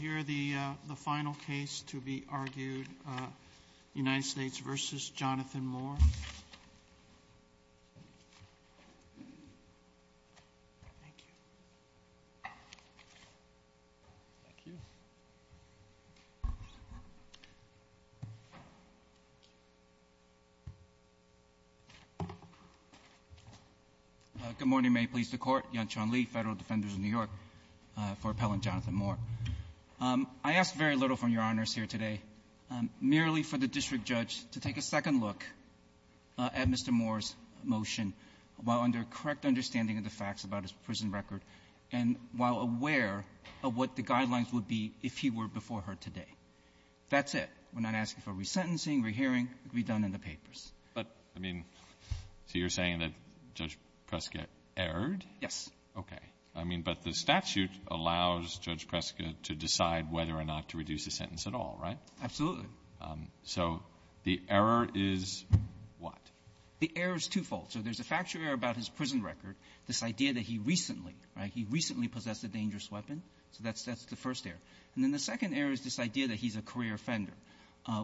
Here is the final case to be argued, United States v. Jonathan Moore. Good morning. May it please the Court. Yan-Chuan Li, Federal Defenders of New York for Appellant Jonathan Moore. I asked very little from Your Honors here today, merely for the district judge to take a second look at Mr. Moore's motion while under correct understanding of the facts about his prison record, and while aware of what the guidelines would be if he were before her today. That's it. We're not asking for resentencing, rehearing. It would be done in the papers. But, I mean, so you're saying that Judge Prescott erred? Yes. Okay. I mean, but the statute allows Judge Prescott to decide whether or not to reduce the sentence at all, right? Absolutely. So the error is what? The error is twofold. So there's a factual error about his prison record, this idea that he recently — right? — he recently possessed a dangerous weapon. So that's the first error. And then the second error is this idea that he's a career offender,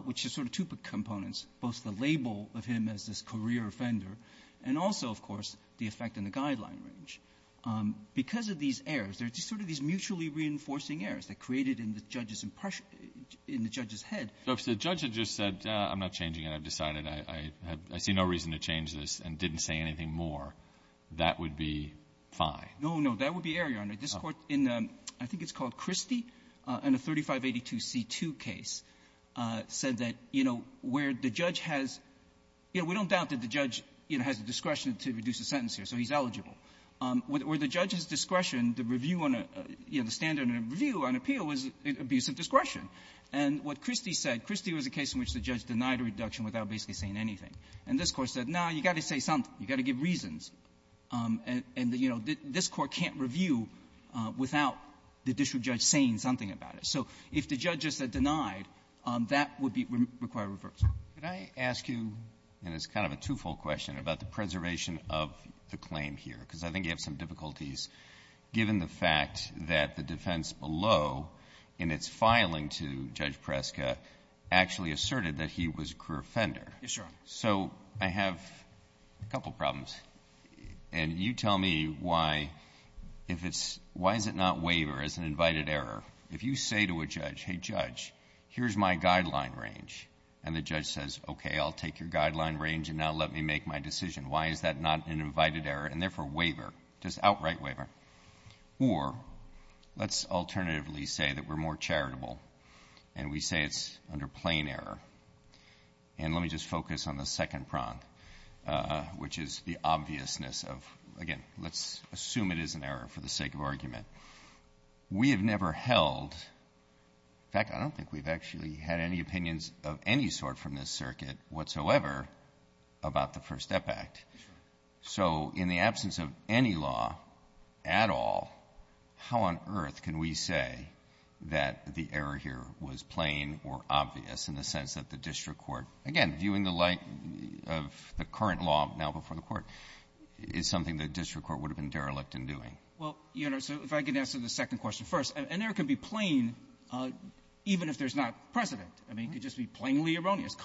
which is sort of two components, both the label of him as this career offender, and also, of course, the effect on the guideline range. Because of these errors, there are sort of these mutually reinforcing errors that created in the judge's impression — in the judge's head. So if the judge had just said, I'm not changing it. I've decided I have — I see no reason to change this and didn't say anything more, that would be fine? No, no. That would be error, Your Honor. This Court, in I think it's called Christie, in the 3582C2 case, said that, you know, where the judge has — you know, we don't doubt that the judge, you know, has the discretion to reduce a sentence here, so he's eligible. Where the judge has discretion, the review on a — you know, the standard of review on appeal is abuse of discretion. And what Christie said, Christie was a case in which the judge denied a reduction without basically saying anything. And this Court said, no, you've got to say something. You've got to give reasons. And — and, you know, this Court can't review without the district judge saying something about it. So if the judge just said denied, that would be — would require reversal. Could I ask you, and it's kind of a two-fold question, about the preservation of the claim here? Because I think you have some difficulties, given the fact that the defense below, in its filing to Judge Preska, actually asserted that he was a career offender. Yes, Your Honor. So I have a couple problems. And you tell me why, if it's — why is it not waiver as an invited error? If you say to a judge, hey, judge, here's my guideline range, and the judge says, okay, I'll take your guideline range, and now let me make my decision, why is that not an invited error, and therefore, waiver, just outright waiver. Or let's alternatively say that we're more charitable, and we say it's under plain error. And let me just focus on the second prong, which is the obviousness of — again, let's assume it is an error for the sake of argument. We have never held — in fact, I don't think we've actually had any opinions of any sort from this circuit whatsoever about the FIRST STEP Act. So in the absence of any law at all, how on earth can we say that the error here was plain or obvious in the sense that the district court, again, viewing the light of the current law now before the Court, is something the district court would have been derelict in doing? Well, Your Honor, so if I can answer the second question first. An error can be plain even if there's not precedent. I mean, it could just be plainly erroneous,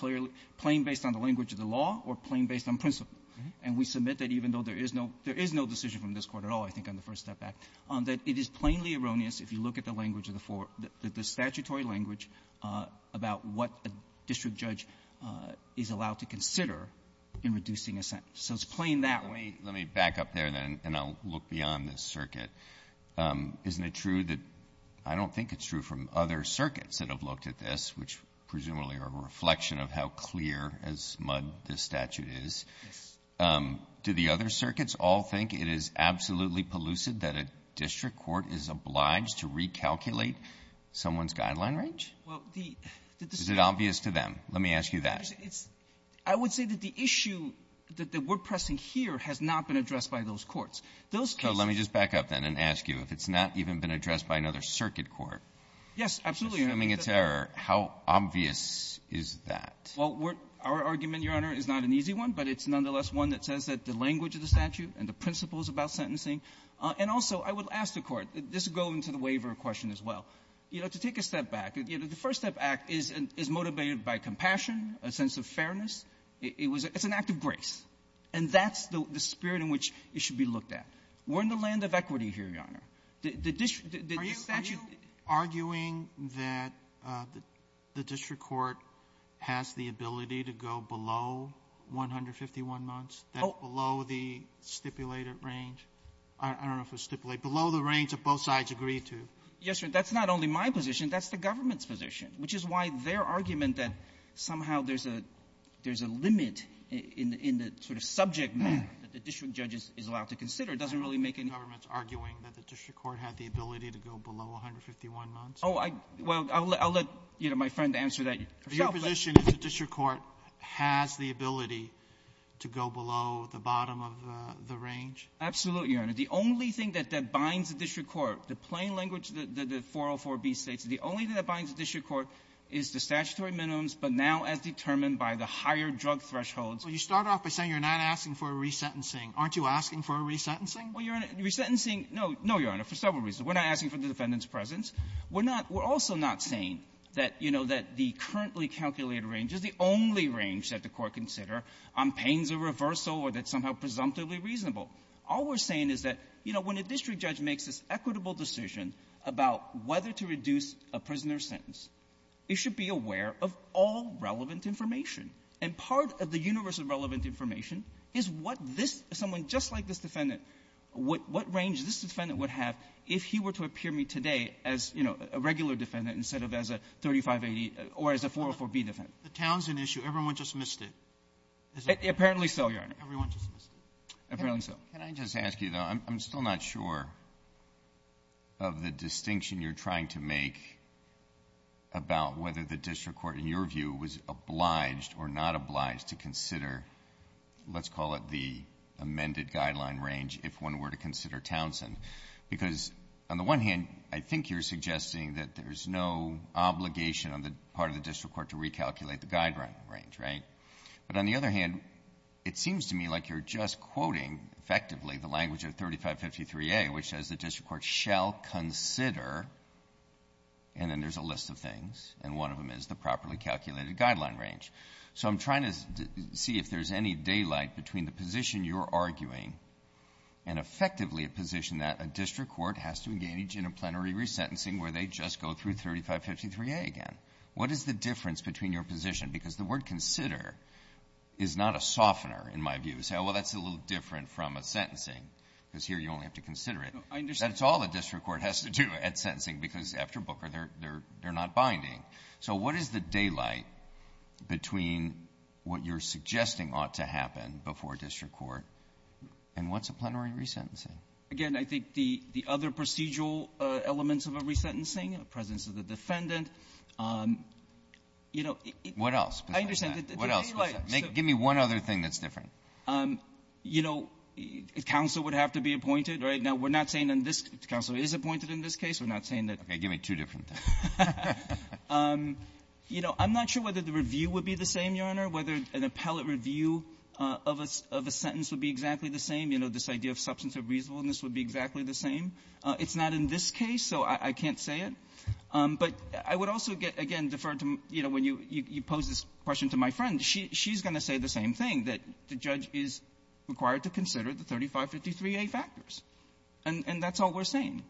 plain based on the language of the law or plain based on principle. And we submit that even though there is no — there is no decision from this Court at all, I think, on the FIRST STEP Act, that it is plainly erroneous if you look at the language of the — the statutory language about what a district judge is allowed to consider in reducing a sentence. So it's plain that way. Breyer. Let me back up there, then, and I'll look beyond this circuit. Isn't it true that — I don't think it's true from other circuits that have looked at this, which presumably are a reflection of how clear as mud this statute is. Do the other circuits all think it is absolutely pellucid that a district court is obliged to recalculate someone's guideline range? Well, the — Is it obvious to them? Let me ask you that. It's — I would say that the issue that we're pressing here has not been addressed by those courts. Those cases — So let me just back up, then, and ask you if it's not even been addressed by another circuit court. Yes, absolutely. Assuming it's error, how obvious is that? Well, we're — our argument, Your Honor, is not an easy one, but it's nonetheless one that says that the language of the statute and the principles about sentencing — and also, I would ask the Court, this would go into the waiver question as well. You know, to take a step back, you know, the First Step Act is — is motivated by compassion, a sense of fairness. It was — it's an act of grace. And that's the — the spirit in which it should be looked at. We're in the land of equity here, Your Honor. The — the statute — I'm arguing that the district court has the ability to go below 151 months. That's below the stipulated range. I don't know if it's stipulated. Below the range that both sides agree to. Yes, sir. That's not only my position. That's the government's position, which is why their argument that somehow there's a — there's a limit in the — in the sort of subject matter that the district judge is allowed to consider doesn't really make any sense. The government's arguing that the district court had the ability to go below 151 months. Oh, I — well, I'll let — I'll let, you know, my friend answer that herself. But — Your position is the district court has the ability to go below the bottom of the range? Absolutely, Your Honor. The only thing that binds the district court, the plain language that the 404b states, the only thing that binds the district court is the statutory minimums, but now as determined by the higher drug thresholds. Well, you start off by saying you're not asking for a resentencing. Aren't you asking for a resentencing? Well, Your Honor, resentencing — no. No, Your Honor, for several reasons. We're not asking for the defendant's presence. We're not — we're also not saying that, you know, that the currently calculated range is the only range that the Court consider on pains of reversal or that's somehow presumptively reasonable. All we're saying is that, you know, when a district judge makes this equitable decision about whether to reduce a prisoner's sentence, it should be aware of all relevant information. And part of the universe of relevant information is what this — someone just like this defendant, what — what range this defendant would have if he were to appear before me today as, you know, a regular defendant instead of as a 3580 or as a 404b defendant. The Townsend issue, everyone just missed it. Apparently so, Your Honor. Everyone just missed it. Apparently so. Can I just ask you, though? I'm still not sure of the distinction you're trying to make about whether the district court, in your view, was obliged or not obliged to consider, let's call it the amended guideline range, if one were to consider Townsend, because on the one hand, I think you're suggesting that there's no obligation on the part of the district court to recalculate the guideline range, right? But on the other hand, it seems to me like you're just quoting effectively the language of 3553a, which says the district court shall consider, and then there's a list of things, and one of them is the properly calculated guideline range. So I'm trying to see if there's any daylight between the position you're arguing and effectively a position that a district court has to engage in a plenary resentencing where they just go through 3553a again. What is the difference between your position? Because the word consider is not a softener, in my view, to say, oh, well, that's a little different from a sentencing, because here you only have to consider it. I understand. That's all the district court has to do at sentencing, because after Booker, they're not binding. So what is the daylight between what you're suggesting ought to happen before a district court, and what's a plenary resentencing? Again, I think the other procedural elements of a resentencing, the presence of the defendant, you know, it's the daylight. What else? Give me one other thing that's different. You know, counsel would have to be appointed, right? Now, we're not saying in this case counsel is appointed in this case. We're not saying that. Okay. Give me two different things. You know, I'm not sure whether the review would be the same, Your Honor, whether an appellate review of a sentence would be exactly the same. You know, this idea of substance of reasonableness would be exactly the same. It's not in this case, so I can't say it. But I would also get, again, deferred to, you know, when you pose this question to my friend, she's going to say the same thing, that the judge is required to consider the 3553a factors, and that's all we're saying,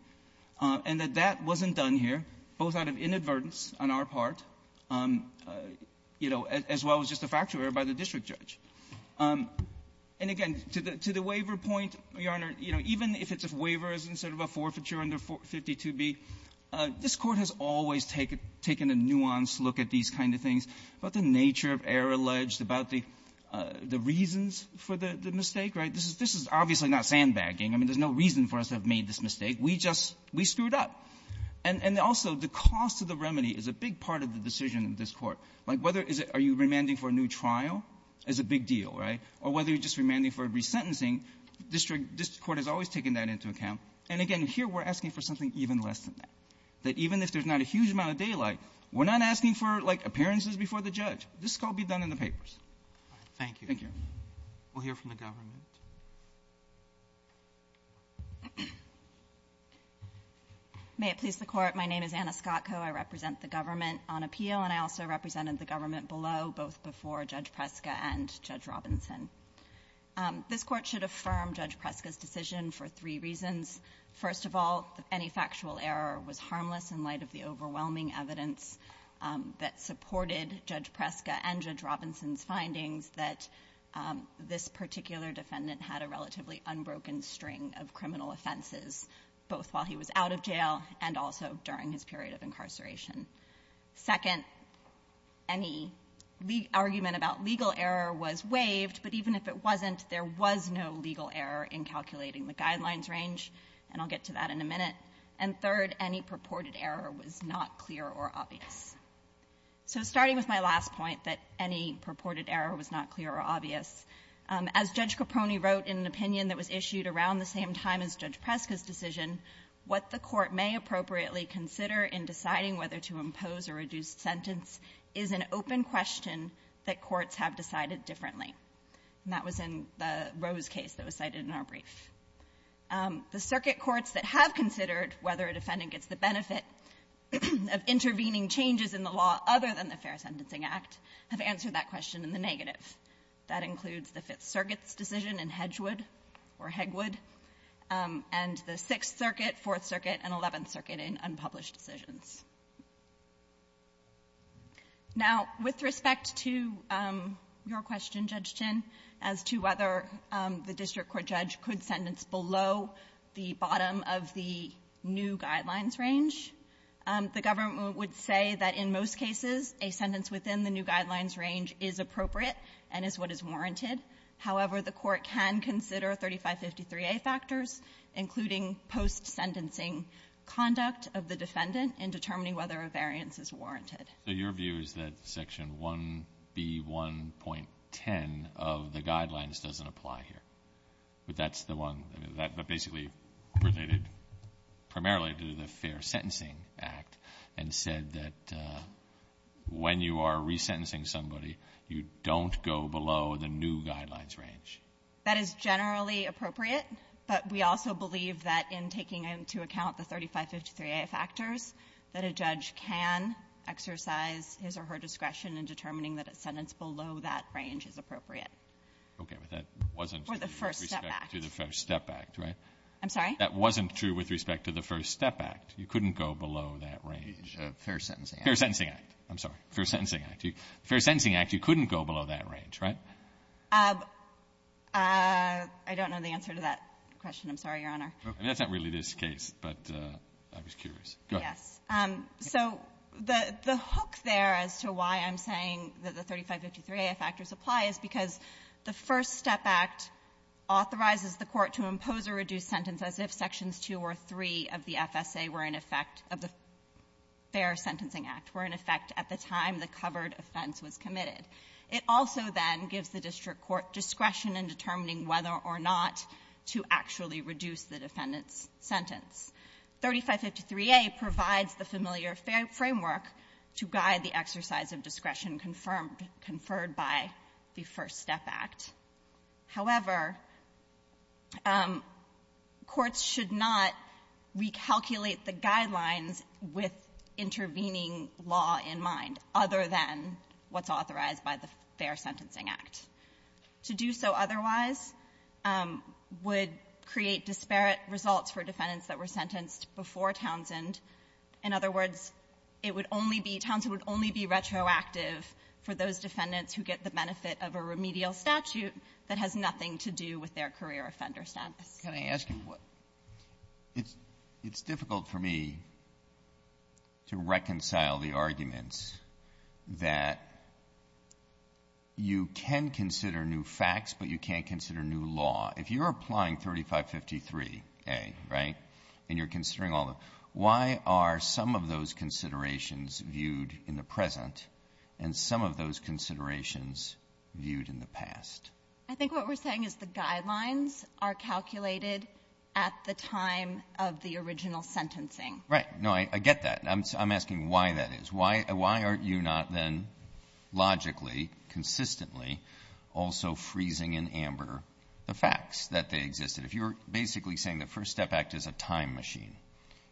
and that that wasn't done here, both out of inadvertence on our part, you know, as well as just a factual error by the district judge. And again, to the waiver point, Your Honor, you know, even if it's a waiver instead of a forfeiture under 452b, this Court has always taken a nuanced look at these kind of things, about the nature of error alleged, about the reasons for the mistake, right? This is obviously not sandbagging. I mean, there's no reason for us to have made this mistake. We just we screwed up. And also, the cost of the remedy is a big part of the decision in this Court. Like, whether is it are you remanding for a new trial is a big deal, right? Or whether you're just remanding for a resentencing, this Court has always taken that into account. And again, here we're asking for something even less than that, that even if there's not a huge amount of daylight, we're not asking for, like, appearances before the judge. This could all be done in the papers. Thank you. Thank you. We'll hear from the government. May it please the Court. My name is Anna Scottco. I represent the government on appeal, and I also represented the government below, both before Judge Preska and Judge Robinson. This Court should affirm Judge Preska's decision for three reasons. First of all, any factual error was harmless in light of the overwhelming evidence that supported Judge Preska and Judge Robinson's findings that this particular defendant had a relatively unbroken string of criminal offenses, both while he was out of jail and also during his period of incarceration. Second, any argument about legal error was waived, but even if it wasn't, there was no legal error in calculating the guidelines range, and I'll get to that in a minute. And third, any purported error was not clear or obvious. So starting with my last point, that any purported error was not clear or obvious, as Judge Capone wrote in an opinion that was issued around the same time as Judge Preska's decision, what the Court may appropriately consider in deciding whether to impose a reduced sentence is an open question that courts have decided differently. And that was in the Rose case that was cited in our brief. The circuit courts that have considered whether a defendant gets the benefit of intervening changes in the law other than the Fair Sentencing Act have answered that question in the negative. That includes the Fifth Circuit's decision in Hedgewood or Hegwood, and the Sixth Circuit, Fourth Circuit, and Eleventh Circuit in unpublished decisions. Now, with respect to your question, Judge Chinn, as to whether the district court judge could sentence below the bottom of the new guidelines range, the government would say that in most cases, a sentence within the new guidelines range is appropriate and is what is warranted. However, the Court can consider 3553a factors, including post-sentencing conduct of the defendant in determining whether a variance is warranted. Breyer. So your view is that Section 1B1.10 of the guidelines doesn't apply here? But that's the one that basically related primarily to the Fair Sentencing Act and said that when you are resentencing somebody, you don't go below the new guidelines range? That is generally appropriate. But we also believe that in taking into account the 3553a factors, that a judge can exercise his or her discretion in determining that a sentence below that range is appropriate. Okay. But that wasn't true. With respect to the First Step Act, right? I'm sorry? That wasn't true with respect to the First Step Act. You couldn't go below that range. Fair Sentencing Act. Fair Sentencing Act. I'm sorry. Fair Sentencing Act. Fair Sentencing Act, you couldn't go below that range, right? I don't know the answer to that question. I'm sorry, Your Honor. That's not really this case, but I was curious. Go ahead. Yes. So the hook there as to why I'm saying that the 3553a factors apply is because the First Step Act authorizes the court to impose a reduced sentence as if Sections 2 or 3 of the FSA were in effect of the Fair Sentencing Act, were in effect at the time the covered offense was committed. It also, then, gives the district court discretion in determining whether or not to actually reduce the defendant's sentence. 3553a provides the familiar framework to guide the exercise of discretion confirmed by the First Step Act. However, courts should not recalculate the guidelines with intervening law in mind, other than what's authorized by the Fair Sentencing Act. To do so otherwise would create disparate results for defendants that were In other words, it would only be, Townsend would only be retroactive for those defendants who get the benefit of a remedial statute that has nothing to do with their career offender status. Can I ask you what? It's difficult for me to reconcile the arguments that you can consider new facts, but you can't consider new law. If you're applying 3553a, right, and you're considering all of them, why are some of those considerations viewed in the present and some of those considerations viewed in the past? I think what we're saying is the guidelines are calculated at the time of the original sentencing. Right. No, I get that. I'm asking why that is. Why aren't you not, then, logically, consistently also freezing in amber the facts that they existed? If you're basically saying the First Step Act is a time machine,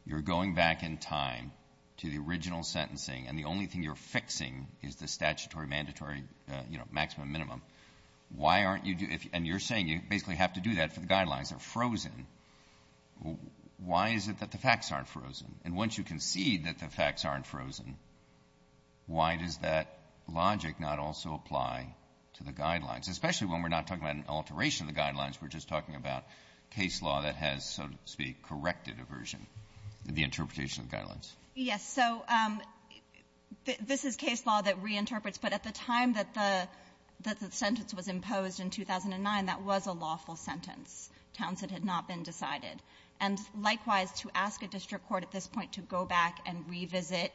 you're going back in time to the original sentencing and the only thing you're fixing is the statutory, mandatory, you know, maximum, minimum, why aren't you do — and you're saying you basically have to do that for the guidelines. They're frozen. Why is it that the facts aren't frozen? And once you concede that the facts aren't frozen, why does that logic not also apply to the guidelines, especially when we're not talking about an alteration of the guidelines, we're just talking about case law that has, so to speak, corrected aversion in the interpretation of the guidelines? Yes. So this is case law that reinterprets. But at the time that the sentence was imposed in 2009, that was a lawful sentence. Townsend had not been decided. And likewise, to ask a district court at this point to go back and revisit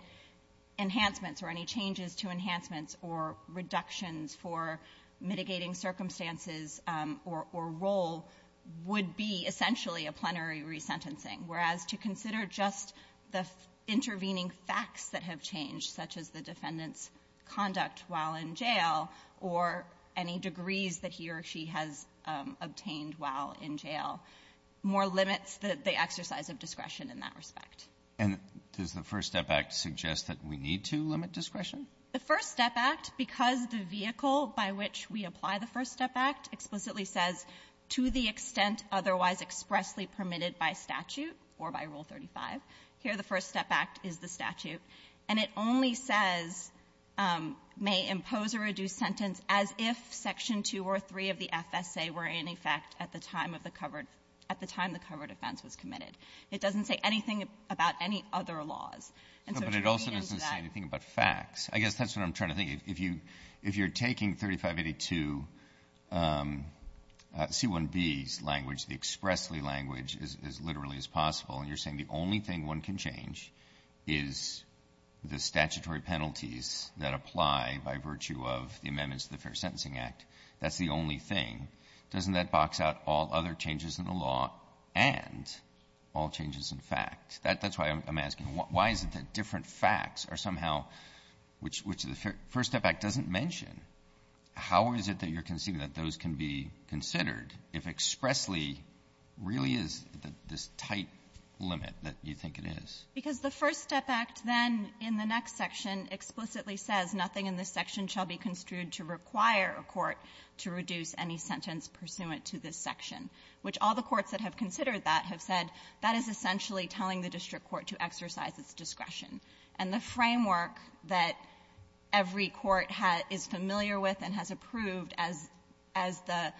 enhancements or any changes to enhancements or reductions for mitigating circumstances or role would be essentially a plenary resentencing. Whereas to consider just the intervening facts that have changed, such as the defendant's conduct while in jail or any degrees that he or she has obtained while in jail, more limits the exercise of discretion in that respect. And does the First Step Act suggest that we need to limit discretion? The First Step Act, because the vehicle by which we apply the First Step Act explicitly says, to the extent otherwise expressly permitted by statute or by Rule 35, here the First Step Act is the statute. And it only says, may impose or reduce sentence as if Section 2 or 3 of the FSA were in effect at the time of the covered at the time the covered offense was committed. It doesn't say anything about any other laws. And so to read into that ---- Breyer. No, but it also doesn't say anything about facts. I guess that's what I'm trying to think. If you're taking 3582 C-1B's language, the expressly language, as literally as possible, and you're saying the only thing one can change is the statutory penalties that apply by virtue of the amendments to the Fair Sentencing Act, that's the only thing. Doesn't that box out all other changes in the law and all changes in fact? That's why I'm asking, why is it that different facts are somehow, which the First Step Act doesn't mention, how is it that you're conceding that those can be considered if expressly really is this tight limit that you think it is? Because the First Step Act then in the next section explicitly says nothing in this pursuant to this section, which all the courts that have considered that have said that is essentially telling the district court to exercise its discretion. And the framework that every court is familiar with and has approved as the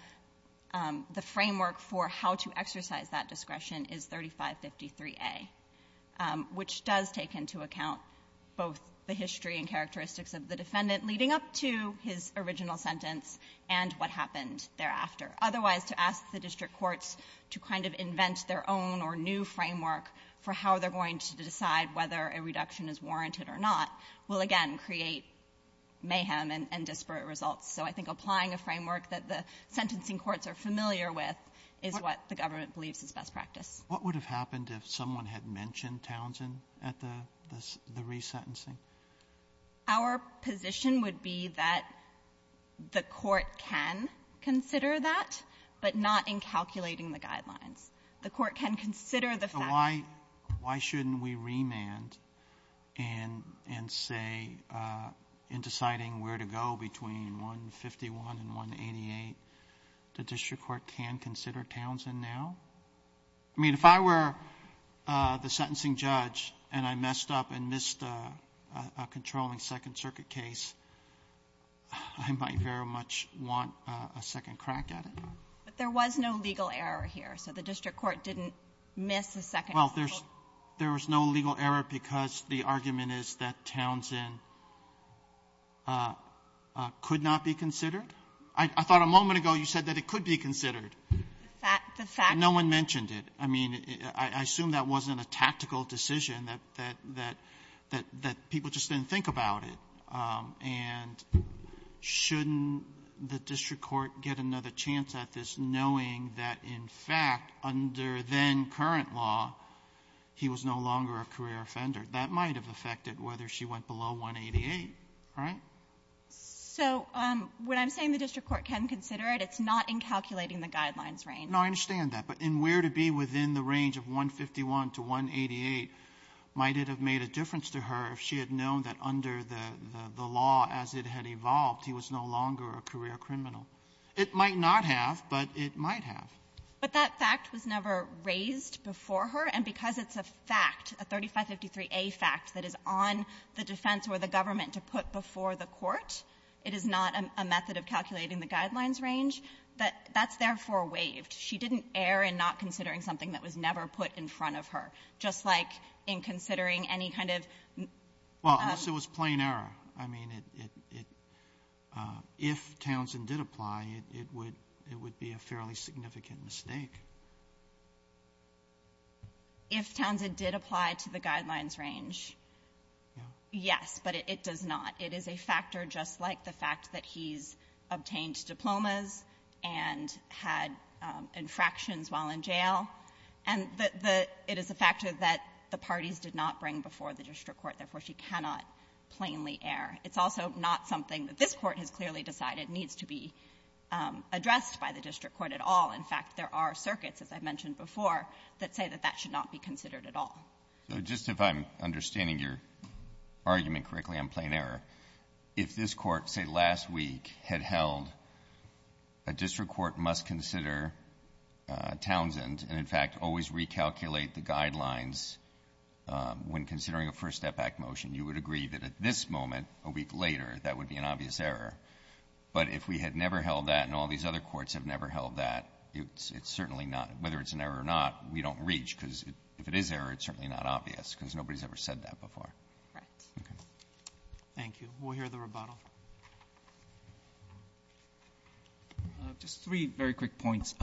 framework for how to exercise that discretion is 3553A, which does take into account both the history and characteristics of the defendant leading up to his original sentence and what happened thereafter. Otherwise, to ask the district courts to kind of invent their own or new framework for how they're going to decide whether a reduction is warranted or not will, again, create mayhem and disparate results. So I think applying a framework that the sentencing courts are familiar with is what the government believes is best practice. What would have happened if someone had mentioned Townsend at the resentencing? Our position would be that the court can consider that, but not in calculating the guidelines. The court can consider the fact that the district court can consider Townsend now. So why shouldn't we remand and say in deciding where to go between 151 and 188, the district court can consider Townsend now? I mean, if I were the sentencing judge and I messed up and missed a controlling Second Circuit case, I might very much want a second crack at it. But there was no legal error here. So the district court didn't miss a Second Circuit. Well, there's no legal error because the argument is that Townsend could not be considered. I thought a moment ago you said that it could be considered. The fact that no one mentioned it. I mean, I assume that wasn't a tactical decision, that people just didn't think about it. And shouldn't the district court get another chance at this knowing that, in fact, under then-current law, he was no longer a career offender? That might have affected whether she went below 188, right? So what I'm saying, the district court can consider it. It's not in calculating the Guidelines range. Now, I understand that. But in where to be within the range of 151 to 188, might it have made a difference to her if she had known that under the law, as it had evolved, he was no longer a career criminal? It might not have, but it might have. But that fact was never raised before her. And because it's a fact, a 3553a fact that is on the defense or the government to put before the court, it is not a method of calculating the Guidelines range. That's therefore waived. She didn't err in not considering something that was never put in front of her, just like in considering any kind of ---- Well, unless it was plain error. I mean, if Townsend did apply, it would be a fairly significant mistake. If Townsend did apply to the Guidelines range, yes. But it does not. It is a factor just like the fact that he's obtained diplomas and had infractions while in jail, and the ---- it is a factor that the parties did not bring before the district court. Therefore, she cannot plainly err. It's also not something that this Court has clearly decided needs to be addressed by the district court at all. In fact, there are circuits, as I mentioned before, that say that that should not be considered at all. So just if I'm understanding your argument correctly on plain error, if this Court, say, last week, had held a district court must consider Townsend and, in fact, always recalculate the Guidelines when considering a first step back motion, you would agree that at this moment, a week later, that would be an obvious error. But if we had never held that and all these other courts have never held that, it's certainly not ---- whether it's an error or not, we don't reach, because if it is an error, it's certainly not obvious, because nobody's ever said that before. Okay. Roberts. Thank you. We'll hear the rebuttal. Just three very quick points.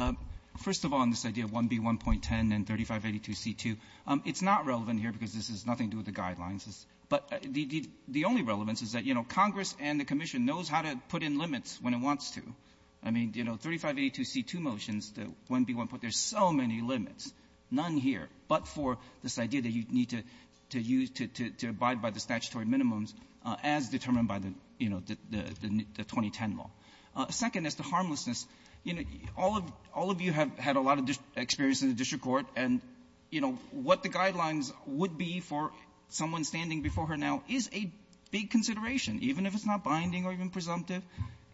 First of all, on this idea of 1B1.10 and 3582C2, it's not relevant here because this has nothing to do with the Guidelines, but the only relevance is that, you know, Congress and the Commission knows how to put in limits when it wants to. I mean, you know, 3582C2 motions, the 1B1.10, there's so many limits, none here. But for this idea that you need to use to abide by the statutory minimums as determined by the, you know, the 2010 law. Second is the harmlessness. You know, all of you have had a lot of experience in the district court, and, you know, what the Guidelines would be for someone standing before her now is a big consideration, even if it's not binding or even presumptive,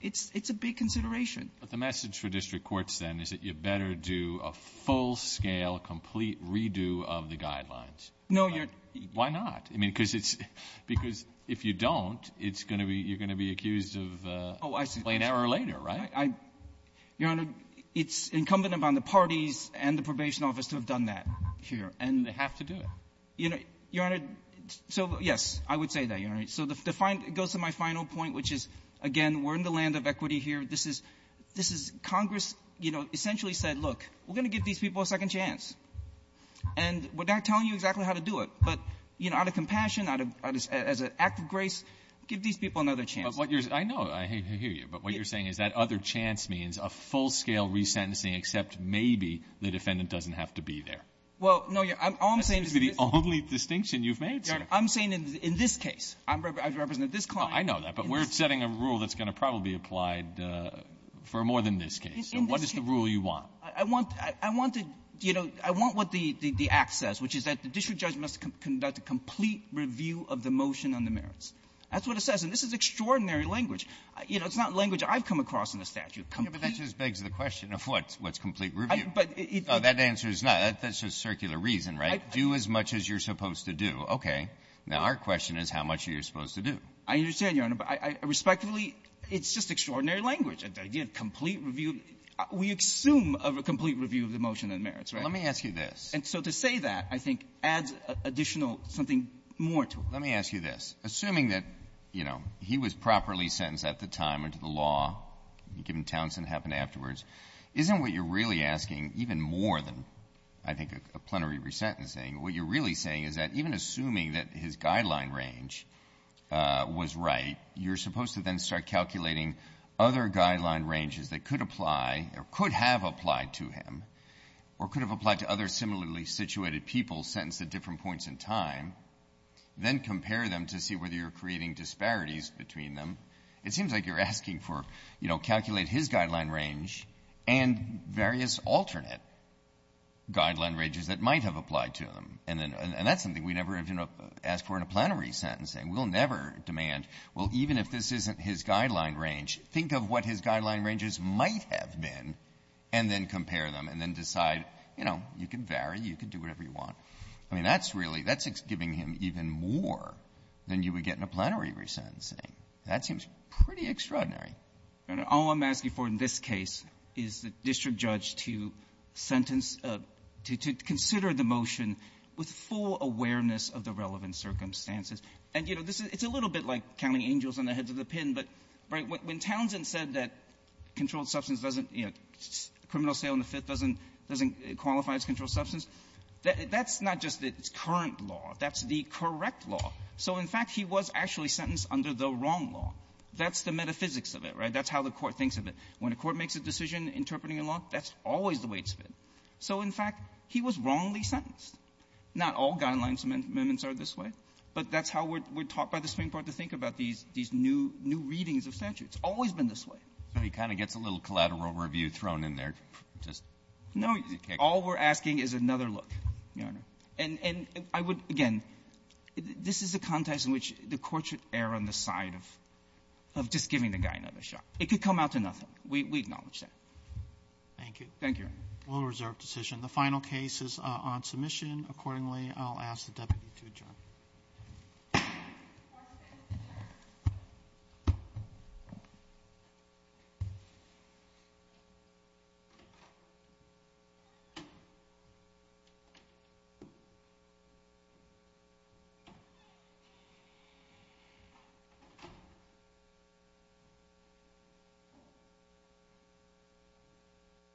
it's a big consideration. But the message for district courts, then, is that you better do a full-scale, complete redo of the Guidelines. No, Your Honor. Why not? I mean, because it's — because if you don't, it's going to be — you're going to be accused of — Oh, I see. — plain error later, right? I — Your Honor, it's incumbent upon the parties and the probation office to have done that here. And — They have to do it. You know, Your Honor, so, yes, I would say that, Your Honor. So the final — it goes to my final point, which is, again, we're in the land of — this is — Congress, you know, essentially said, look, we're going to give these people a second chance. And we're not telling you exactly how to do it, but, you know, out of compassion, out of — as an act of grace, give these people another chance. But what you're — I know. I hear you. But what you're saying is that other chance means a full-scale resentencing, except maybe the defendant doesn't have to be there. Well, no, Your Honor, all I'm saying is — That seems to be the only distinction you've made, sir. Your Honor, I'm saying in this case. I represent this client. I know that, but we're setting a rule that's going to probably be applied for more than this case. In this case — What is the rule you want? I want — I want to — you know, I want what the — the act says, which is that the district judge must conduct a complete review of the motion on the merits. That's what it says. And this is extraordinary language. You know, it's not language I've come across in the statute. Yeah, but that just begs the question of what's — what's complete review. But it — No, that answer is not. That's just circular reason, right? I — Do as much as you're supposed to do. Okay. Now, our question is how much are you supposed to do? I understand, Your Honor. But I — respectively, it's just extraordinary language, the idea of complete review. We assume of a complete review of the motion on the merits, right? Let me ask you this. And so to say that, I think, adds additional — something more to it. Let me ask you this. Assuming that, you know, he was properly sentenced at the time under the law, given Townsend happened afterwards, isn't what you're really asking even more than, I think, a plenary resentencing? What you're really saying is that even assuming that his guideline range was right, you're supposed to then start calculating other guideline ranges that could apply or could have applied to him or could have applied to other similarly situated people sentenced at different points in time, then compare them to see whether you're creating disparities between them. It seems like you're asking for, you know, calculate his guideline range and various alternate guideline ranges that might have applied to him. And that's something we never have asked for in a plenary sentencing. We'll never demand, well, even if this isn't his guideline range, think of what his guideline ranges might have been and then compare them and then decide, you know, you can vary, you can do whatever you want. I mean, that's really — that's giving him even more than you would get in a plenary resentencing. That seems pretty extraordinary. All I'm asking for in this case is the district judge to sentence — to consider the motion with full awareness of the relevant circumstances. And, you know, this is — it's a little bit like counting angels on the heads of the pin, but when Townsend said that controlled substance doesn't, you know, criminal sale in the Fifth doesn't qualify as controlled substance, that's not just its current law. That's the correct law. So, in fact, he was actually sentenced under the wrong law. That's the metaphysics of it, right? That's how the Court thinks of it. When a court makes a decision interpreting a law, that's always the way it's been. So, in fact, he was wrongly sentenced. Not all guidelines amendments are this way, but that's how we're — we're taught by the Supreme Court to think about these — these new — new readings of statute. It's always been this way. So he kind of gets a little collateral review thrown in there, just — No. All we're asking is another look, Your Honor. And I would — again, this is a context in which the Court should err on the side of — of just giving the guy another shot. It could come out to nothing. We acknowledge that. Thank you. Thank you, Your Honor. We'll reserve decision. The final case is on submission. Accordingly, I'll ask the deputy to adjourn. Thank you.